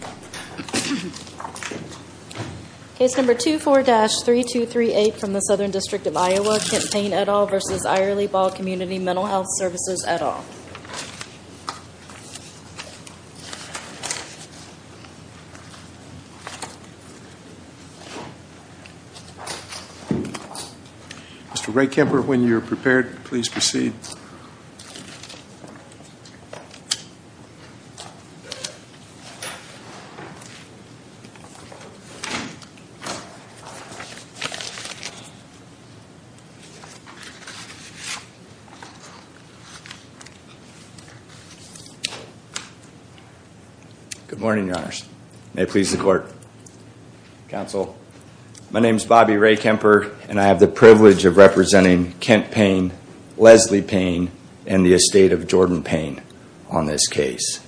v. Eyerly-Ball Community Mental Health Services, Et al. Mr. Ray Kemper, when you're prepared, please proceed. Good morning, your honors. May it please the court. Counsel, my name is Bobby Ray Kemper, and I have the privilege of representing Kent Payne, Leslie Payne, and the estate of Jordan Payne on this case.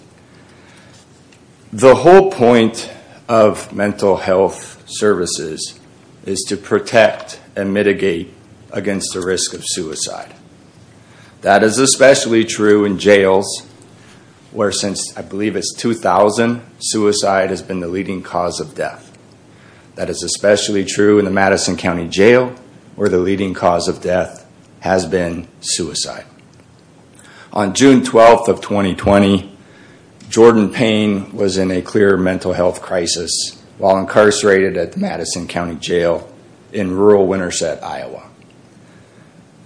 The whole point of mental health services is to protect and mitigate against the risk of suicide. That is especially true in jails, where since I believe it's 2000, suicide has been the leading cause of death. That is especially true in the Madison County Jail, where the leading cause of death has been suicide. On June 12th of 2020, Jordan Payne was in a clear mental health crisis while incarcerated at the Madison County Jail in rural Winterset, Iowa.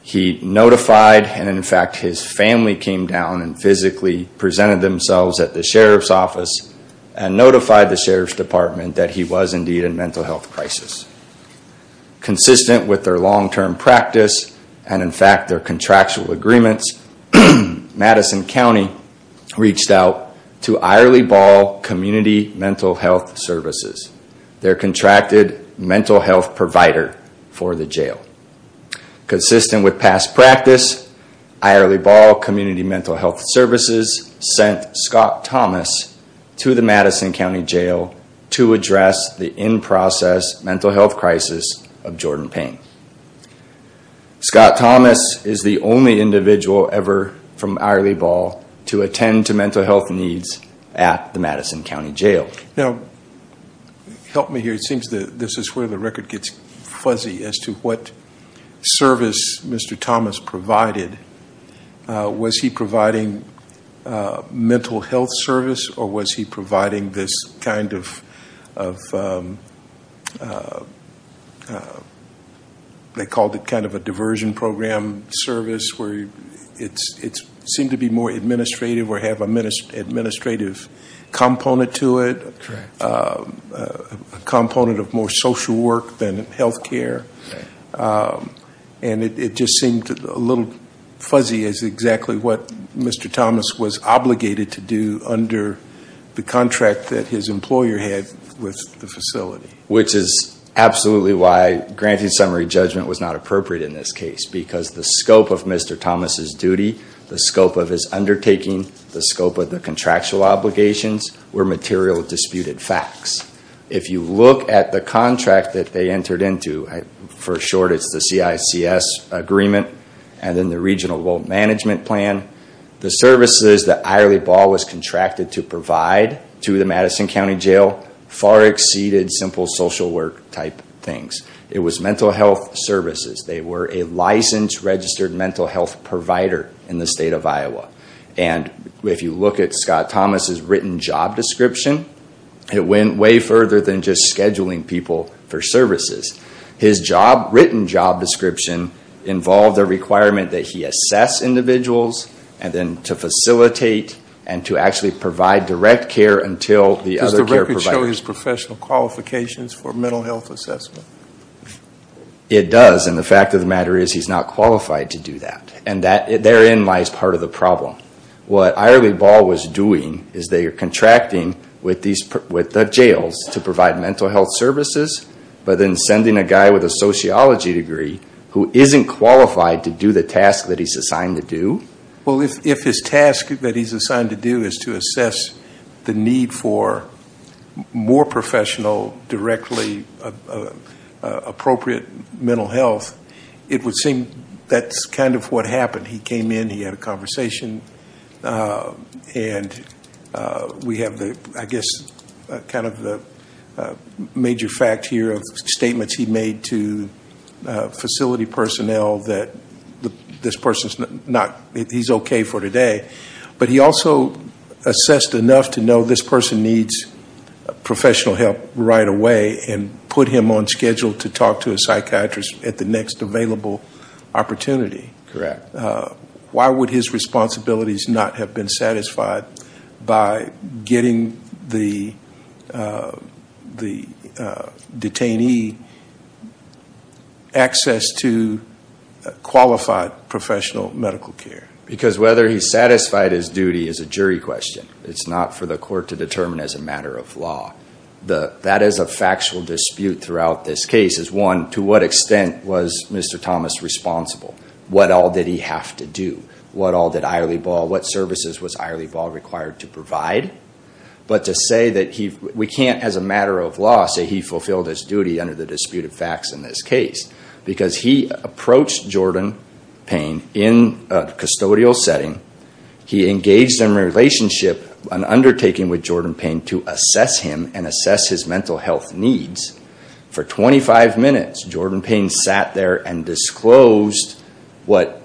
He notified, and in fact his family came down and physically presented themselves at the sheriff's office and notified the sheriff's department that he was indeed in mental health crisis. Consistent with their long-term practice, and in fact their contractual agreements, Madison County reached out to Eyerly-Ball Community Mental Health Services, their contracted mental health provider for the jail. Consistent with past practice, Eyerly-Ball Community Mental Health Services sent Scott Thomas to the Madison County Jail to address the in-process mental health crisis of Jordan Payne. Scott Thomas is the only individual ever from Eyerly-Ball to attend to mental health needs at the Madison County Jail. Now, help me here, it seems that this is where the record gets fuzzy as to what service Mr. Thomas provided. Was he providing mental health service or was he providing this kind of, they called it kind of a diversion program service where it seemed to be more administrative or have an administrative component to it, a component of more social work than health care. And it just seemed a little fuzzy as to exactly what Mr. Thomas was obligated to do under the contract that his employer had with the facility. Which is absolutely why granting summary judgment was not appropriate in this case, because the scope of Mr. Thomas' duty, the scope of his undertaking, the scope of the contractual obligations were material disputed facts. If you look at the contract that they entered into, for short it's the CICS agreement, and then the regional loan management plan. The services that Eyerly-Ball was contracted to provide to the Madison County Jail far exceeded simple social work type things. It was mental health services. They were a licensed registered mental health provider in the state of Iowa. And if you look at Scott Thomas' written job description, it went way further than just scheduling people for services. His job, written job description involved a requirement that he assess individuals and then to facilitate and to actually provide direct care until the other care providers. Does the record show his professional qualifications for mental health assessment? It does, and the fact of the matter is he's not qualified to do that. And therein lies part of the problem. What Eyerly-Ball was doing is they are contracting with the jails to provide mental health services, but then sending a guy with a sociology degree who isn't qualified to do the task that he's assigned to do. Well, if his task that he's assigned to do is to assess the need for more professional, directly appropriate mental health, it would seem that's kind of what happened. He came in, he had a conversation, and we have the, I guess, kind of the major fact here of statements he made to facility personnel that this person's not, he's okay for today. But he also assessed enough to know this person needs professional help right away and put him on schedule to talk to a psychiatrist at the next available opportunity. Correct. Why would his responsibilities not have been satisfied by getting the detainee access to qualified professional medical care? Because whether he's satisfied his duty is a jury question. It's not for the court to determine as a matter of law. That is a factual dispute throughout this case is, one, to what extent was Mr. Thomas responsible? What all did he have to do? What all did Eyerly Ball, what services was Eyerly Ball required to provide? But to say that we can't as a matter of law say he fulfilled his duty under the dispute of facts in this case. Because he approached Jordan Payne in a custodial setting. He engaged in a relationship, an undertaking with Jordan Payne to assess him and assess his mental health needs. For 25 minutes, Jordan Payne sat there and disclosed what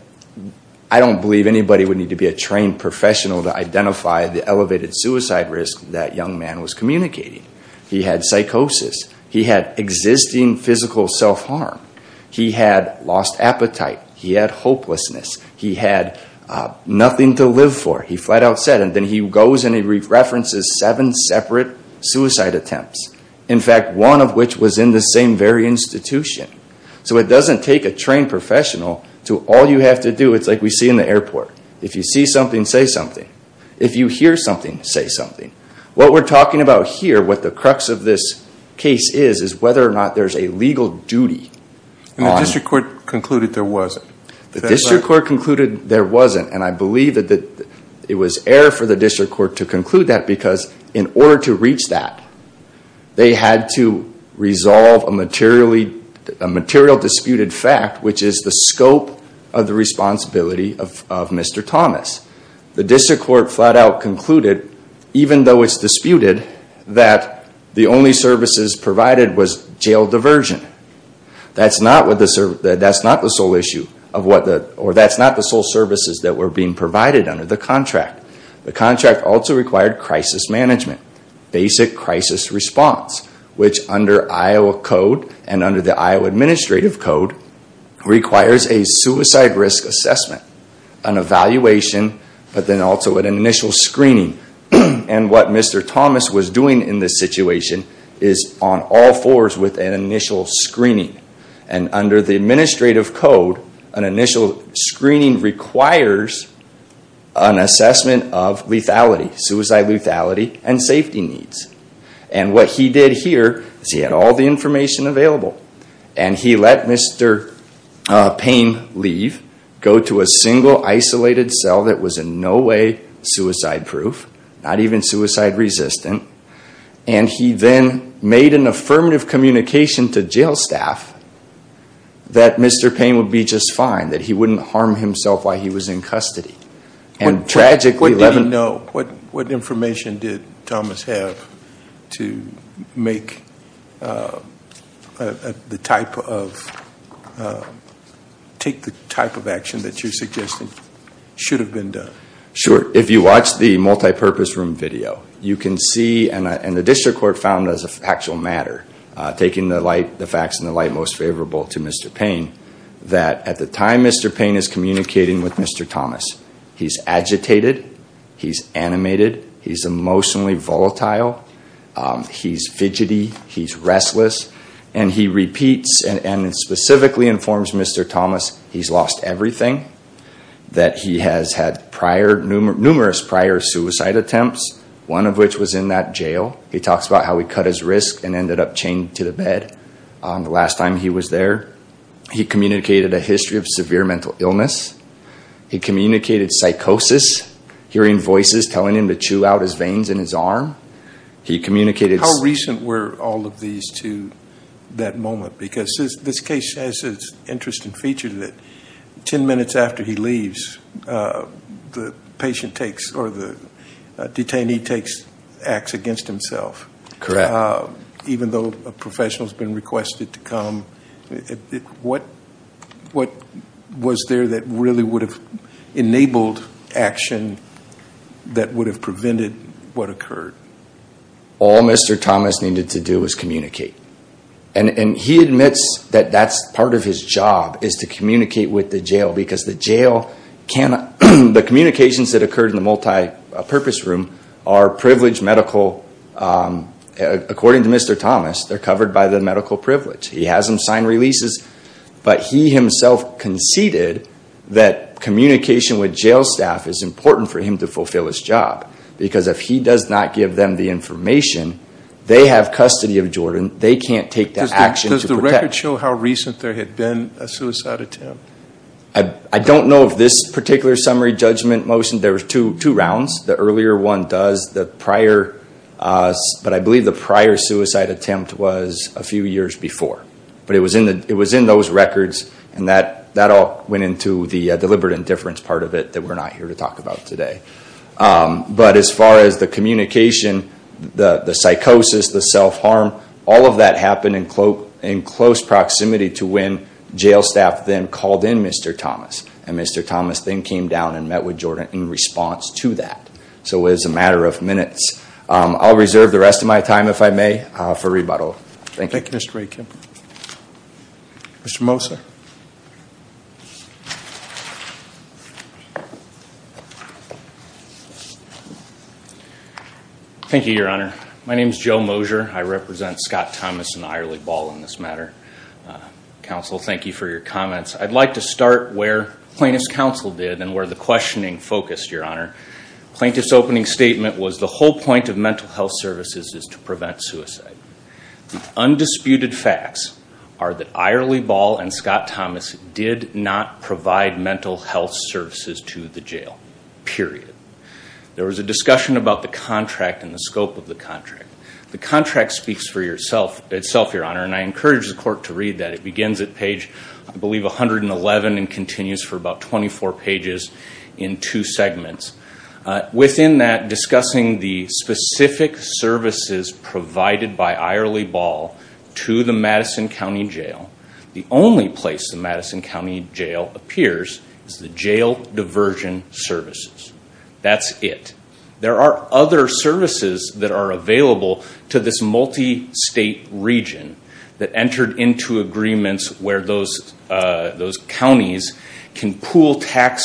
I don't believe anybody would need to be a trained professional to identify the elevated suicide risk that young man was communicating. He had psychosis. He had existing physical self-harm. He had lost appetite. He had hopelessness. He had nothing to live for. He flat out said it. And then he goes and he references seven separate suicide attempts. In fact, one of which was in the same very institution. So it doesn't take a trained professional to all you have to do. It's like we see in the airport. If you see something, say something. If you hear something, say something. What we're talking about here, what the crux of this case is, is whether or not there's a legal duty. The district court concluded there wasn't. The district court concluded there wasn't. And I believe that it was error for the district court to conclude that because in order to reach that, they had to resolve a material disputed fact, which is the scope of the responsibility of Mr. Thomas. The district court flat out concluded, even though it's disputed, that the only services provided was jail diversion. That's not the sole issue, or that's not the sole services that were being provided under the contract. The contract also required crisis management, basic crisis response, which under Iowa Code and under the Iowa Administrative Code requires a suicide risk assessment, an evaluation, but then also an initial screening. And what Mr. Thomas was doing in this situation is on all fours with an initial screening. And under the Administrative Code, an initial screening requires an assessment of lethality, suicide lethality and safety needs. And what he did here is he had all the information available. And he let Mr. Payne leave, go to a single isolated cell that was in no way suicide-proof, not even suicide-resistant. And he then made an affirmative communication to jail staff that Mr. Payne would be just fine, that he wouldn't harm himself while he was in custody. What did he know? What information did Thomas have to make the type of, take the type of action that you're suggesting should have been done? Sure. If you watch the multipurpose room video, you can see, and the district court found as a factual matter, taking the facts in the light most favorable to Mr. Payne, that at the time Mr. Payne is communicating with Mr. Thomas, he's agitated. He's animated. He's emotionally volatile. He's fidgety. He's restless. And he repeats and specifically informs Mr. Thomas he's lost everything, that he has had prior, numerous prior suicide attempts, one of which was in that jail. He talks about how he cut his wrist and ended up chained to the bed the last time he was there. He communicated a history of severe mental illness. He communicated psychosis, hearing voices telling him to chew out his veins in his arm. He communicated- How recent were all of these to that moment? Because this case has this interesting feature that 10 minutes after he leaves, the patient takes, or the detainee takes, acts against himself. Correct. Even though a professional has been requested to come, what was there that really would have enabled action that would have prevented what occurred? All Mr. Thomas needed to do was communicate. And he admits that that's part of his job, is to communicate with the jail, because the jail cannot- The communications that occurred in the multipurpose room are privileged medical- according to Mr. Thomas, they're covered by the medical privilege. He has them sign releases, but he himself conceded that communication with jail staff is important for him to fulfill his job, because if he does not give them the information, they have custody of Jordan. They can't take the action to protect- Does the record show how recent there had been a suicide attempt? I don't know of this particular summary judgment motion. There were two rounds. The earlier one does. But I believe the prior suicide attempt was a few years before. But it was in those records, and that all went into the deliberate indifference part of it that we're not here to talk about today. But as far as the communication, the psychosis, the self-harm, all of that happened in close proximity to when jail staff then called in Mr. Thomas, and Mr. Thomas then came down and met with Jordan in response to that. So it was a matter of minutes. I'll reserve the rest of my time, if I may, for rebuttal. Thank you. Thank you, Mr. Ray Kim. Mr. Moser? Thank you, Your Honor. My name is Joe Moser. I represent Scott Thomas and Eyerly Ball in this matter. Counsel, thank you for your comments. I'd like to start where plaintiff's counsel did and where the questioning focused, Your Honor. Plaintiff's opening statement was the whole point of mental health services is to prevent suicide. The undisputed facts are that Eyerly Ball and Scott Thomas did not provide mental health services to the jail, period. There was a discussion about the contract and the scope of the contract. The contract speaks for itself, Your Honor, and I encourage the court to read that. It begins at page, I believe, 111 and continues for about 24 pages in two segments. Within that, discussing the specific services provided by Eyerly Ball to the Madison County Jail, the only place the Madison County Jail appears is the jail diversion services. That's it. There are other services that are available to this multi-state region that entered into agreements where those counties can pool tax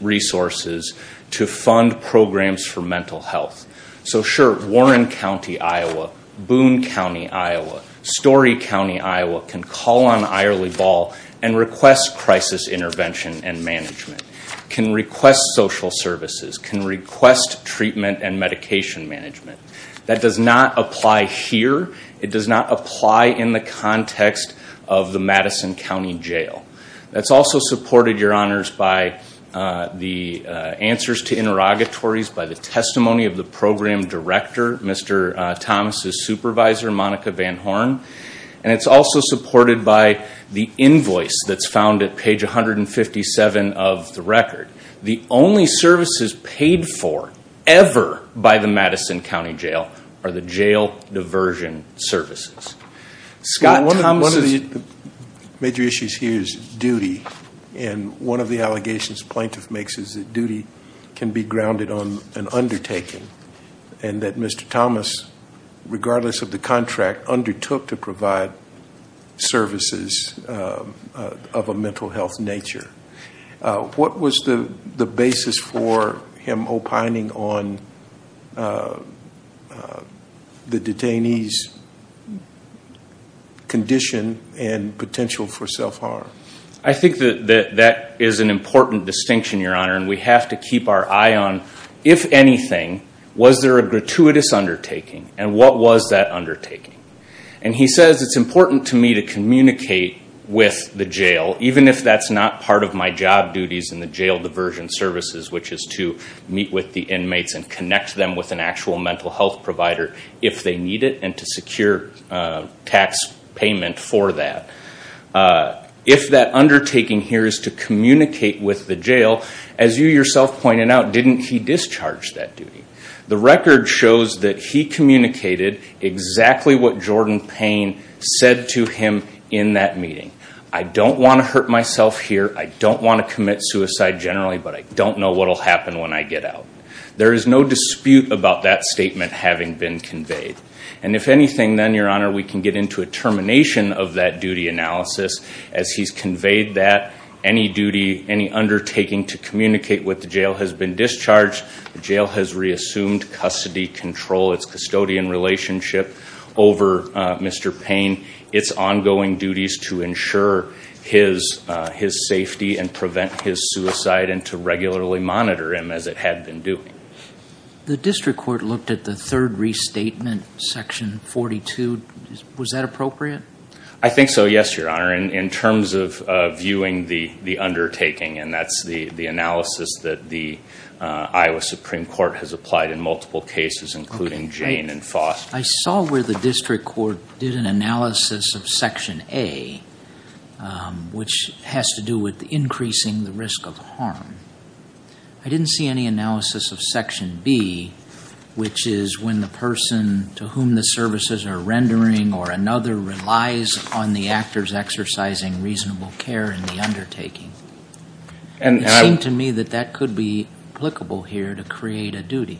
resources to fund programs for mental health. So, sure, Warren County, Iowa, Boone County, Iowa, Story County, Iowa can call on Eyerly Ball and request crisis intervention and management, can request social services, can request treatment and medication management. That does not apply here. It does not apply in the context of the Madison County Jail. That's also supported, Your Honors, by the answers to interrogatories, by the testimony of the program director, Mr. Thomas' supervisor, Monica Van Horn, and it's also supported by the invoice that's found at page 157 of the record. The only services paid for ever by the Madison County Jail are the jail diversion services. Scott, Thomas' One of the major issues here is duty, and one of the allegations plaintiff makes is that duty can be grounded on an undertaking and that Mr. Thomas, regardless of the contract, undertook to provide services of a mental health nature. What was the basis for him opining on the detainee's condition and potential for self-harm? I think that that is an important distinction, Your Honor, and we have to keep our eye on, if anything, was there a gratuitous undertaking and what was that undertaking? He says it's important to me to communicate with the jail, even if that's not part of my job duties in the jail diversion services, which is to meet with the inmates and connect them with an actual mental health provider if they need it and to secure tax payment for that. If that undertaking here is to communicate with the jail, as you yourself pointed out, didn't he discharge that duty? The record shows that he communicated exactly what Jordan Payne said to him in that meeting. I don't want to hurt myself here. I don't want to commit suicide generally, but I don't know what will happen when I get out. There is no dispute about that statement having been conveyed. And if anything, then, Your Honor, we can get into a termination of that duty analysis. As he's conveyed that, any duty, any undertaking to communicate with the jail has been discharged. The jail has reassumed custody control, its custodian relationship over Mr. Payne, its ongoing duties to ensure his safety and prevent his suicide and to regularly monitor him as it had been doing. The district court looked at the third restatement, Section 42. Was that appropriate? I think so, yes, Your Honor. In terms of viewing the undertaking, and that's the analysis that the Iowa Supreme Court has applied in multiple cases, including Jane and Foster. I saw where the district court did an analysis of Section A, which has to do with increasing the risk of harm. I didn't see any analysis of Section B, which is when the person to whom the services are rendering or another relies on the actors exercising reasonable care in the undertaking. It seemed to me that that could be applicable here to create a duty.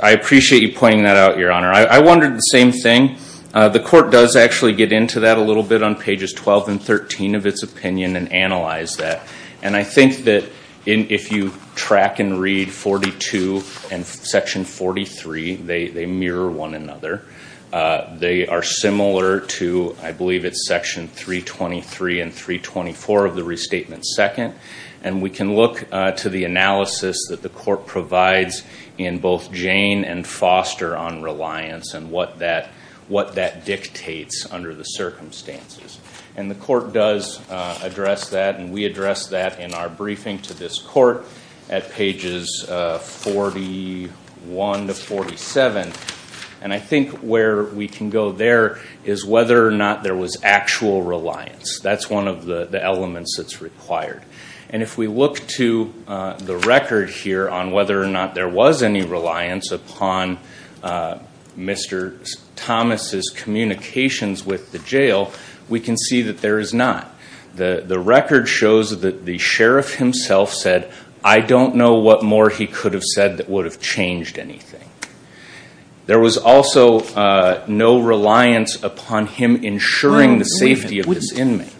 I appreciate you pointing that out, Your Honor. I wondered the same thing. The court does actually get into that a little bit on pages 12 and 13 of its opinion and analyze that. I think that if you track and read 42 and Section 43, they mirror one another. They are similar to, I believe it's Section 323 and 324 of the restatement second. We can look to the analysis that the court provides in both Jane and Foster on reliance and what that dictates under the circumstances. The court does address that, and we address that in our briefing to this court at pages 41 to 47. I think where we can go there is whether or not there was actual reliance. That's one of the elements that's required. If we look to the record here on whether or not there was any reliance upon Mr. Thomas' communications with the jail, we can see that there is not. The record shows that the sheriff himself said, I don't know what more he could have said that would have changed anything. There was also no reliance upon him ensuring the safety of his inmate.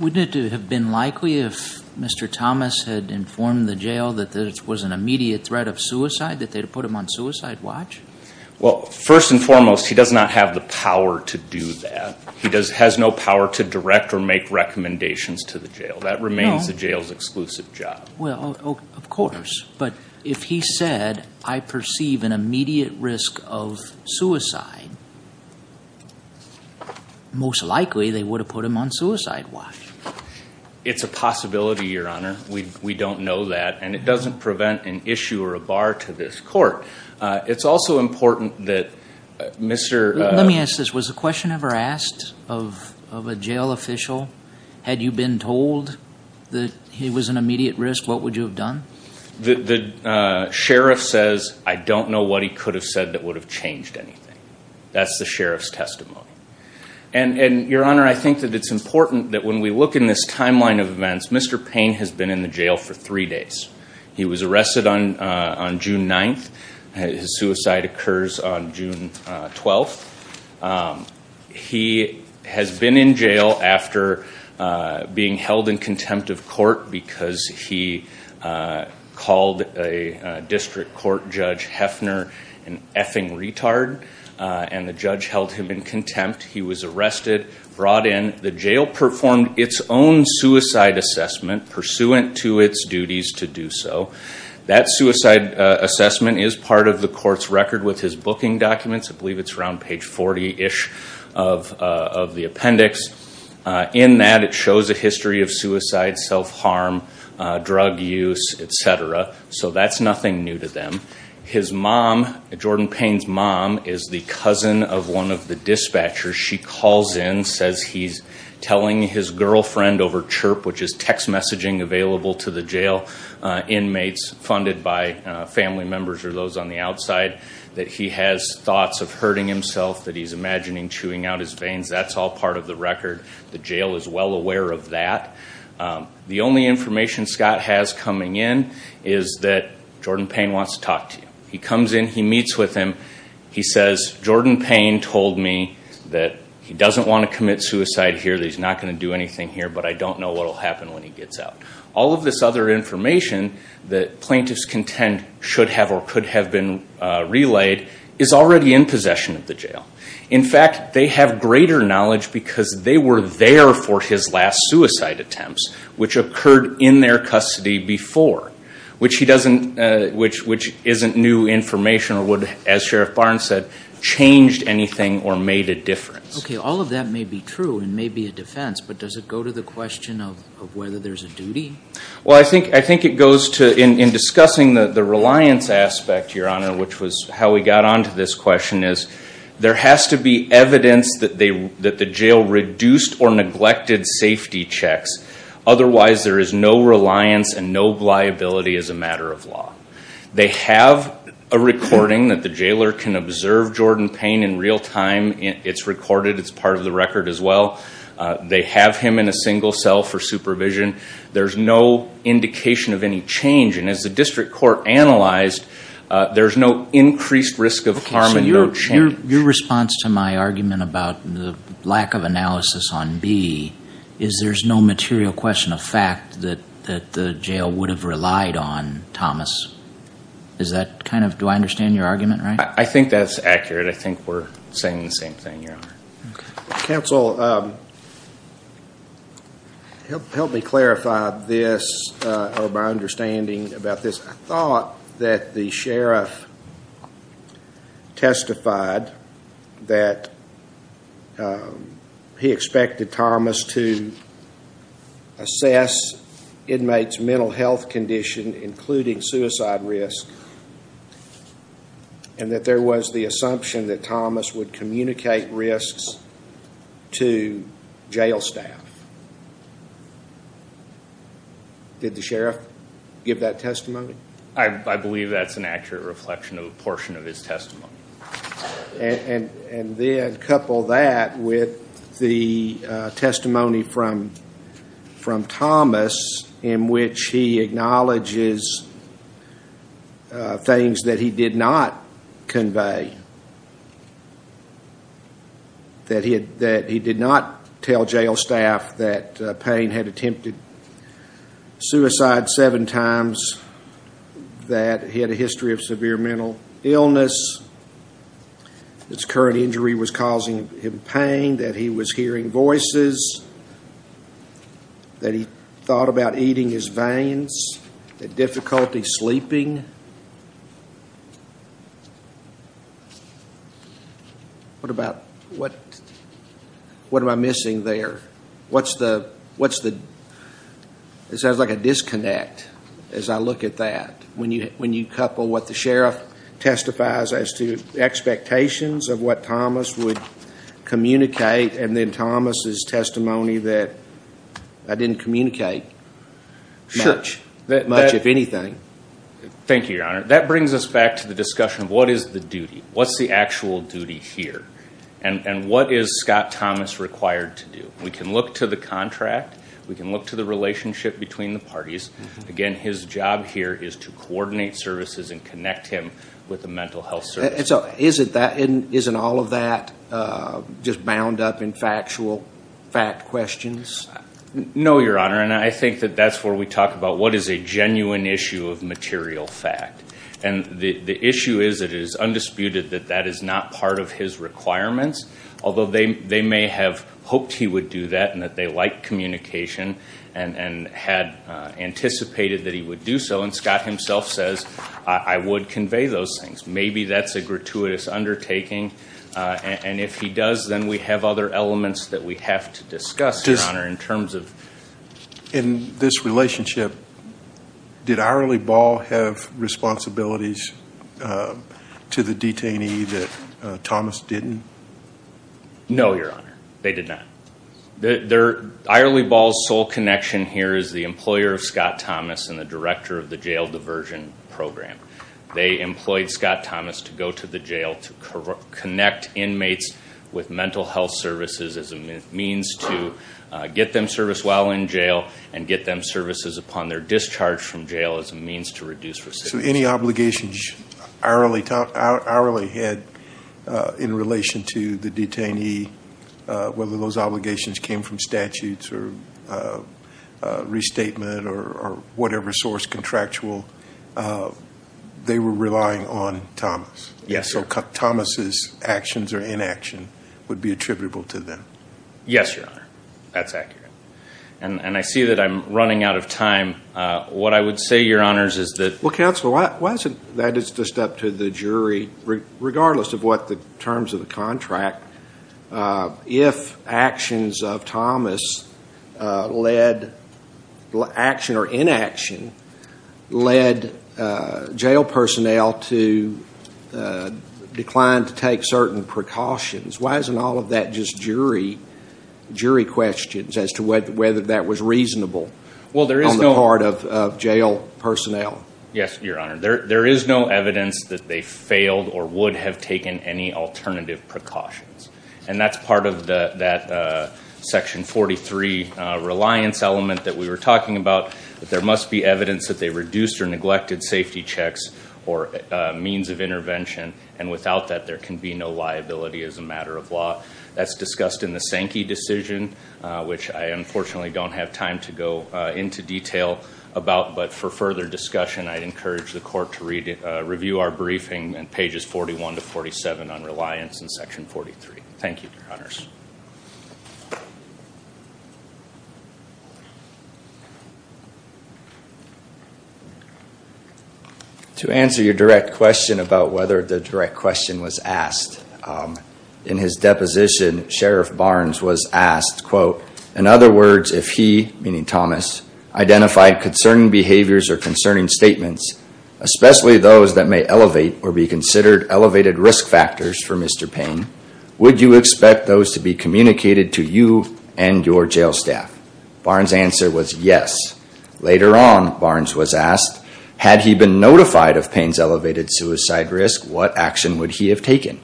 Wouldn't it have been likely if Mr. Thomas had informed the jail that this was an immediate threat of suicide, that they would put him on suicide watch? Well, first and foremost, he does not have the power to do that. He has no power to direct or make recommendations to the jail. That remains the jail's exclusive job. Well, of course, but if he said, I perceive an immediate risk of suicide, most likely they would have put him on suicide watch. It's a possibility, Your Honor. We don't know that, and it doesn't prevent an issue or a bar to this court. It's also important that Mr. Let me ask this. Was the question ever asked of a jail official? Had you been told that it was an immediate risk? What would you have done? The sheriff says, I don't know what he could have said that would have changed anything. That's the sheriff's testimony. And, Your Honor, I think that it's important that when we look in this timeline of events, Mr. Payne has been in the jail for three days. He was arrested on June 9th. His suicide occurs on June 12th. He has been in jail after being held in contempt of court because he called a district court judge, Hefner, an effing retard. And the judge held him in contempt. He was arrested, brought in. The jail performed its own suicide assessment pursuant to its duties to do so. That suicide assessment is part of the court's record with his booking documents. I believe it's around page 40-ish of the appendix. In that, it shows a history of suicide, self-harm, drug use, etc. So that's nothing new to them. His mom, Jordan Payne's mom, is the cousin of one of the dispatchers. She calls in, says he's telling his girlfriend over CHIRP, which is text messaging available to the jail inmates funded by family members or those on the outside, that he has thoughts of hurting himself, that he's imagining chewing out his veins. That's all part of the record. The jail is well aware of that. The only information Scott has coming in is that Jordan Payne wants to talk to you. He comes in. He meets with him. He says, Jordan Payne told me that he doesn't want to commit suicide here, that he's not going to do anything here, but I don't know what will happen when he gets out. All of this other information that plaintiffs contend should have or could have been relayed is already in possession of the jail. In fact, they have greater knowledge because they were there for his last suicide attempts, which occurred in their custody before, which isn't new information or would, as Sheriff Barnes said, changed anything or made a difference. Okay. All of that may be true and may be a defense, but does it go to the question of whether there's a duty? Well, I think it goes to, in discussing the reliance aspect, Your Honor, which was how we got on to this question, is there has to be evidence that the jail reduced or neglected safety checks. Otherwise, there is no reliance and no liability as a matter of law. They have a recording that the jailer can observe Jordan Payne in real time. It's recorded. It's part of the record as well. They have him in a single cell for supervision. There's no indication of any change. As the district court analyzed, there's no increased risk of harm and no change. Your response to my argument about the lack of analysis on B is there's no material question of fact that the jail would have relied on, Thomas. Do I understand your argument right? I think that's accurate. I think we're saying the same thing, Your Honor. Counsel, help me clarify this or my understanding about this. I thought that the sheriff testified that he expected Thomas to assess inmates' mental health condition, including suicide risk, and that there was the assumption that Thomas would communicate risks to jail staff. Did the sheriff give that testimony? I believe that's an accurate reflection of a portion of his testimony. And then couple that with the testimony from Thomas in which he acknowledges things that he did not convey. That he did not tell jail staff that Payne had attempted suicide seven times, that he had a history of severe mental illness, that his current injury was causing him pain, that he was hearing voices, that he thought about eating his veins, that difficulty sleeping. What am I missing there? It sounds like a disconnect as I look at that. When you couple what the sheriff testifies as to expectations of what Thomas would communicate, and then Thomas' testimony that I didn't communicate much, much if anything. Thank you, Your Honor. That brings us back to the discussion of what is the duty? What's the actual duty here? And what is Scott Thomas required to do? We can look to the contract. We can look to the relationship between the parties. Again, his job here is to coordinate services and connect him with the mental health service. Isn't all of that just bound up in factual fact questions? No, Your Honor. And I think that that's where we talk about what is a genuine issue of material fact. And the issue is that it is undisputed that that is not part of his requirements. Although they may have hoped he would do that and that they liked communication and had anticipated that he would do so. And Scott himself says, I would convey those things. Maybe that's a gratuitous undertaking. And if he does, then we have other elements that we have to discuss, Your Honor. In this relationship, did Irelie Ball have responsibilities to the detainee that Thomas didn't? No, Your Honor. They did not. Irelie Ball's sole connection here is the employer of Scott Thomas and the director of the jail diversion program. They employed Scott Thomas to go to the jail to connect inmates with mental health services as a means to get them service while in jail and get them services upon their discharge from jail as a means to reduce recidivism. So any obligations Irelie had in relation to the detainee, whether those obligations came from statutes or restatement or whatever source contractual, they were relying on Thomas. Yes, Your Honor. So Thomas' actions or inaction would be attributable to them. Yes, Your Honor. That's accurate. And I see that I'm running out of time. What I would say, Your Honors, is that- Well, counsel, that is just up to the jury, regardless of what the terms of the contract. If actions of Thomas led, action or inaction, led jail personnel to decline to take certain precautions, why isn't all of that just jury questions as to whether that was reasonable on the part of jail personnel? Yes, Your Honor. There is no evidence that they failed or would have taken any alternative precautions. And that's part of that Section 43 reliance element that we were talking about, that there must be evidence that they reduced or neglected safety checks or means of intervention, and without that, there can be no liability as a matter of law. That's discussed in the Sankey decision, which I unfortunately don't have time to go into detail about. But for further discussion, I'd encourage the Court to review our briefing on pages 41 to 47 on reliance in Section 43. Thank you, Your Honors. To answer your direct question about whether the direct question was asked, in his deposition, Sheriff Barnes was asked, quote, in other words, if he, meaning Thomas, identified concerning behaviors or concerning statements, especially those that may elevate or be considered elevated risk factors for Mr. Payne, would you expect those to be communicated to you and your jail staff? Barnes' answer was yes. Later on, Barnes was asked, had he been notified of Payne's elevated suicide risk, what action would he have taken?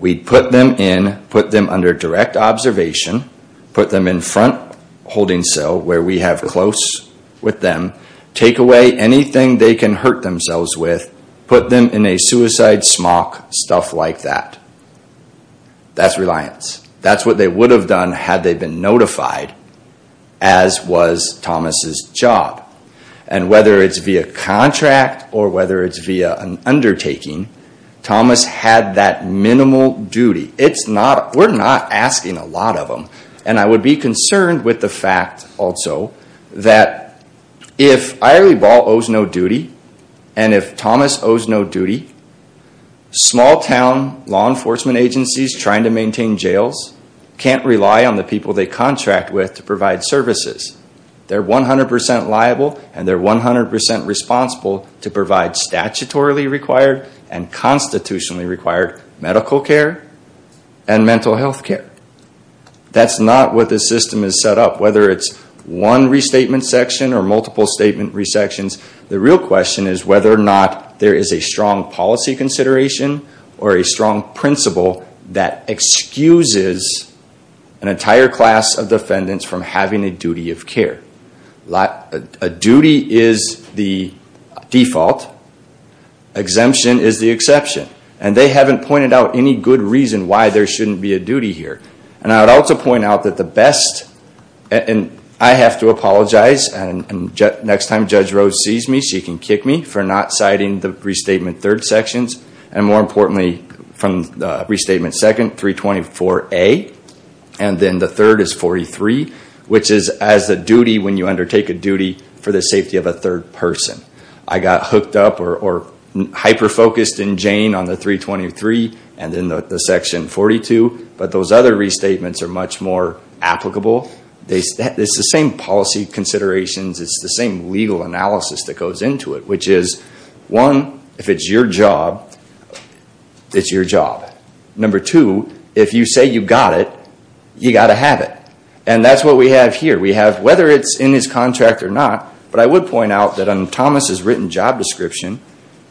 We'd put them in, put them under direct observation, put them in front holding cell where we have close with them, take away anything they can hurt themselves with, put them in a suicide smock, stuff like that. That's reliance. That's what they would have done had they been notified, as was Thomas' job. And whether it's via contract or whether it's via an undertaking, Thomas had that minimal duty. We're not asking a lot of them. And I would be concerned with the fact, also, that if Irie Ball owes no duty and if Thomas owes no duty, small town law enforcement agencies trying to maintain jails can't rely on the people they contract with to provide services. They're 100% liable and they're 100% responsible to provide statutorily required and constitutionally required medical care and mental health care. That's not what the system is set up. Whether it's one restatement section or multiple statement restatements, the real question is whether or not there is a strong policy consideration or a strong principle that excuses an entire class of defendants from having a duty of care. A duty is the default. Exemption is the exception. And they haven't pointed out any good reason why there shouldn't be a duty here. And I would also point out that the best – and I have to apologize. And next time Judge Rose sees me, she can kick me for not citing the restatement third sections. And more importantly, from the restatement second, 324A. And then the third is 43, which is as a duty when you undertake a duty for the safety of a third person. I got hooked up or hyper-focused in Jane on the 323 and then the section 42. But those other restatements are much more applicable. It's the same policy considerations. It's the same legal analysis that goes into it, which is, one, if it's your job, it's your job. Number two, if you say you've got it, you've got to have it. And that's what we have here. We have, whether it's in his contract or not, but I would point out that on Thomas's written job description,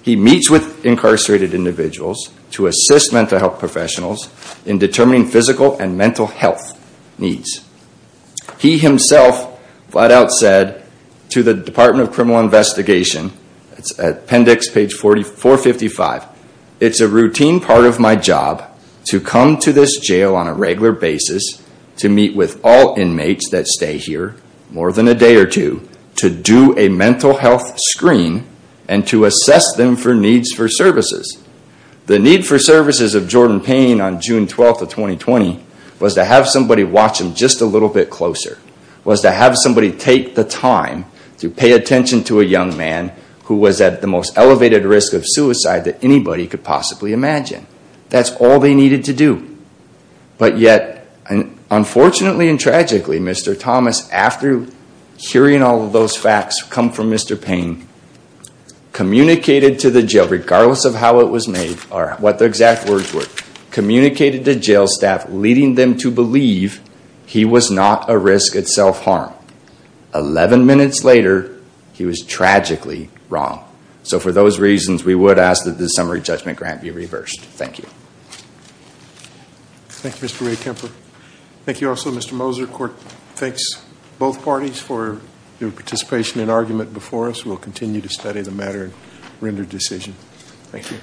he meets with incarcerated individuals to assist mental health professionals in determining physical and mental health needs. He himself flat out said to the Department of Criminal Investigation, it's appendix page 455, it's a routine part of my job to come to this jail on a regular basis to meet with all inmates that stay here more than a day or two to do a mental health screen and to assess them for needs for services. The need for services of Jordan Payne on June 12th of 2020 was to have somebody watch him just a little bit closer, was to have somebody take the time to pay attention to a young man who was at the most elevated risk of suicide that anybody could possibly imagine. That's all they needed to do. But yet, unfortunately and tragically, Mr. Thomas, after hearing all of those facts come from Mr. Payne, communicated to the jail, regardless of how it was made or what the exact words were, communicated to jail staff, leading them to believe he was not a risk at self-harm. Eleven minutes later, he was tragically wrong. So for those reasons, we would ask that the summary judgment grant be reversed. Thank you. Thank you, Mr. Ray Kemper. Thank you also, Mr. Moser. Court thanks both parties for your participation and argument before us. We'll continue to study the matter and render decision. Thank you.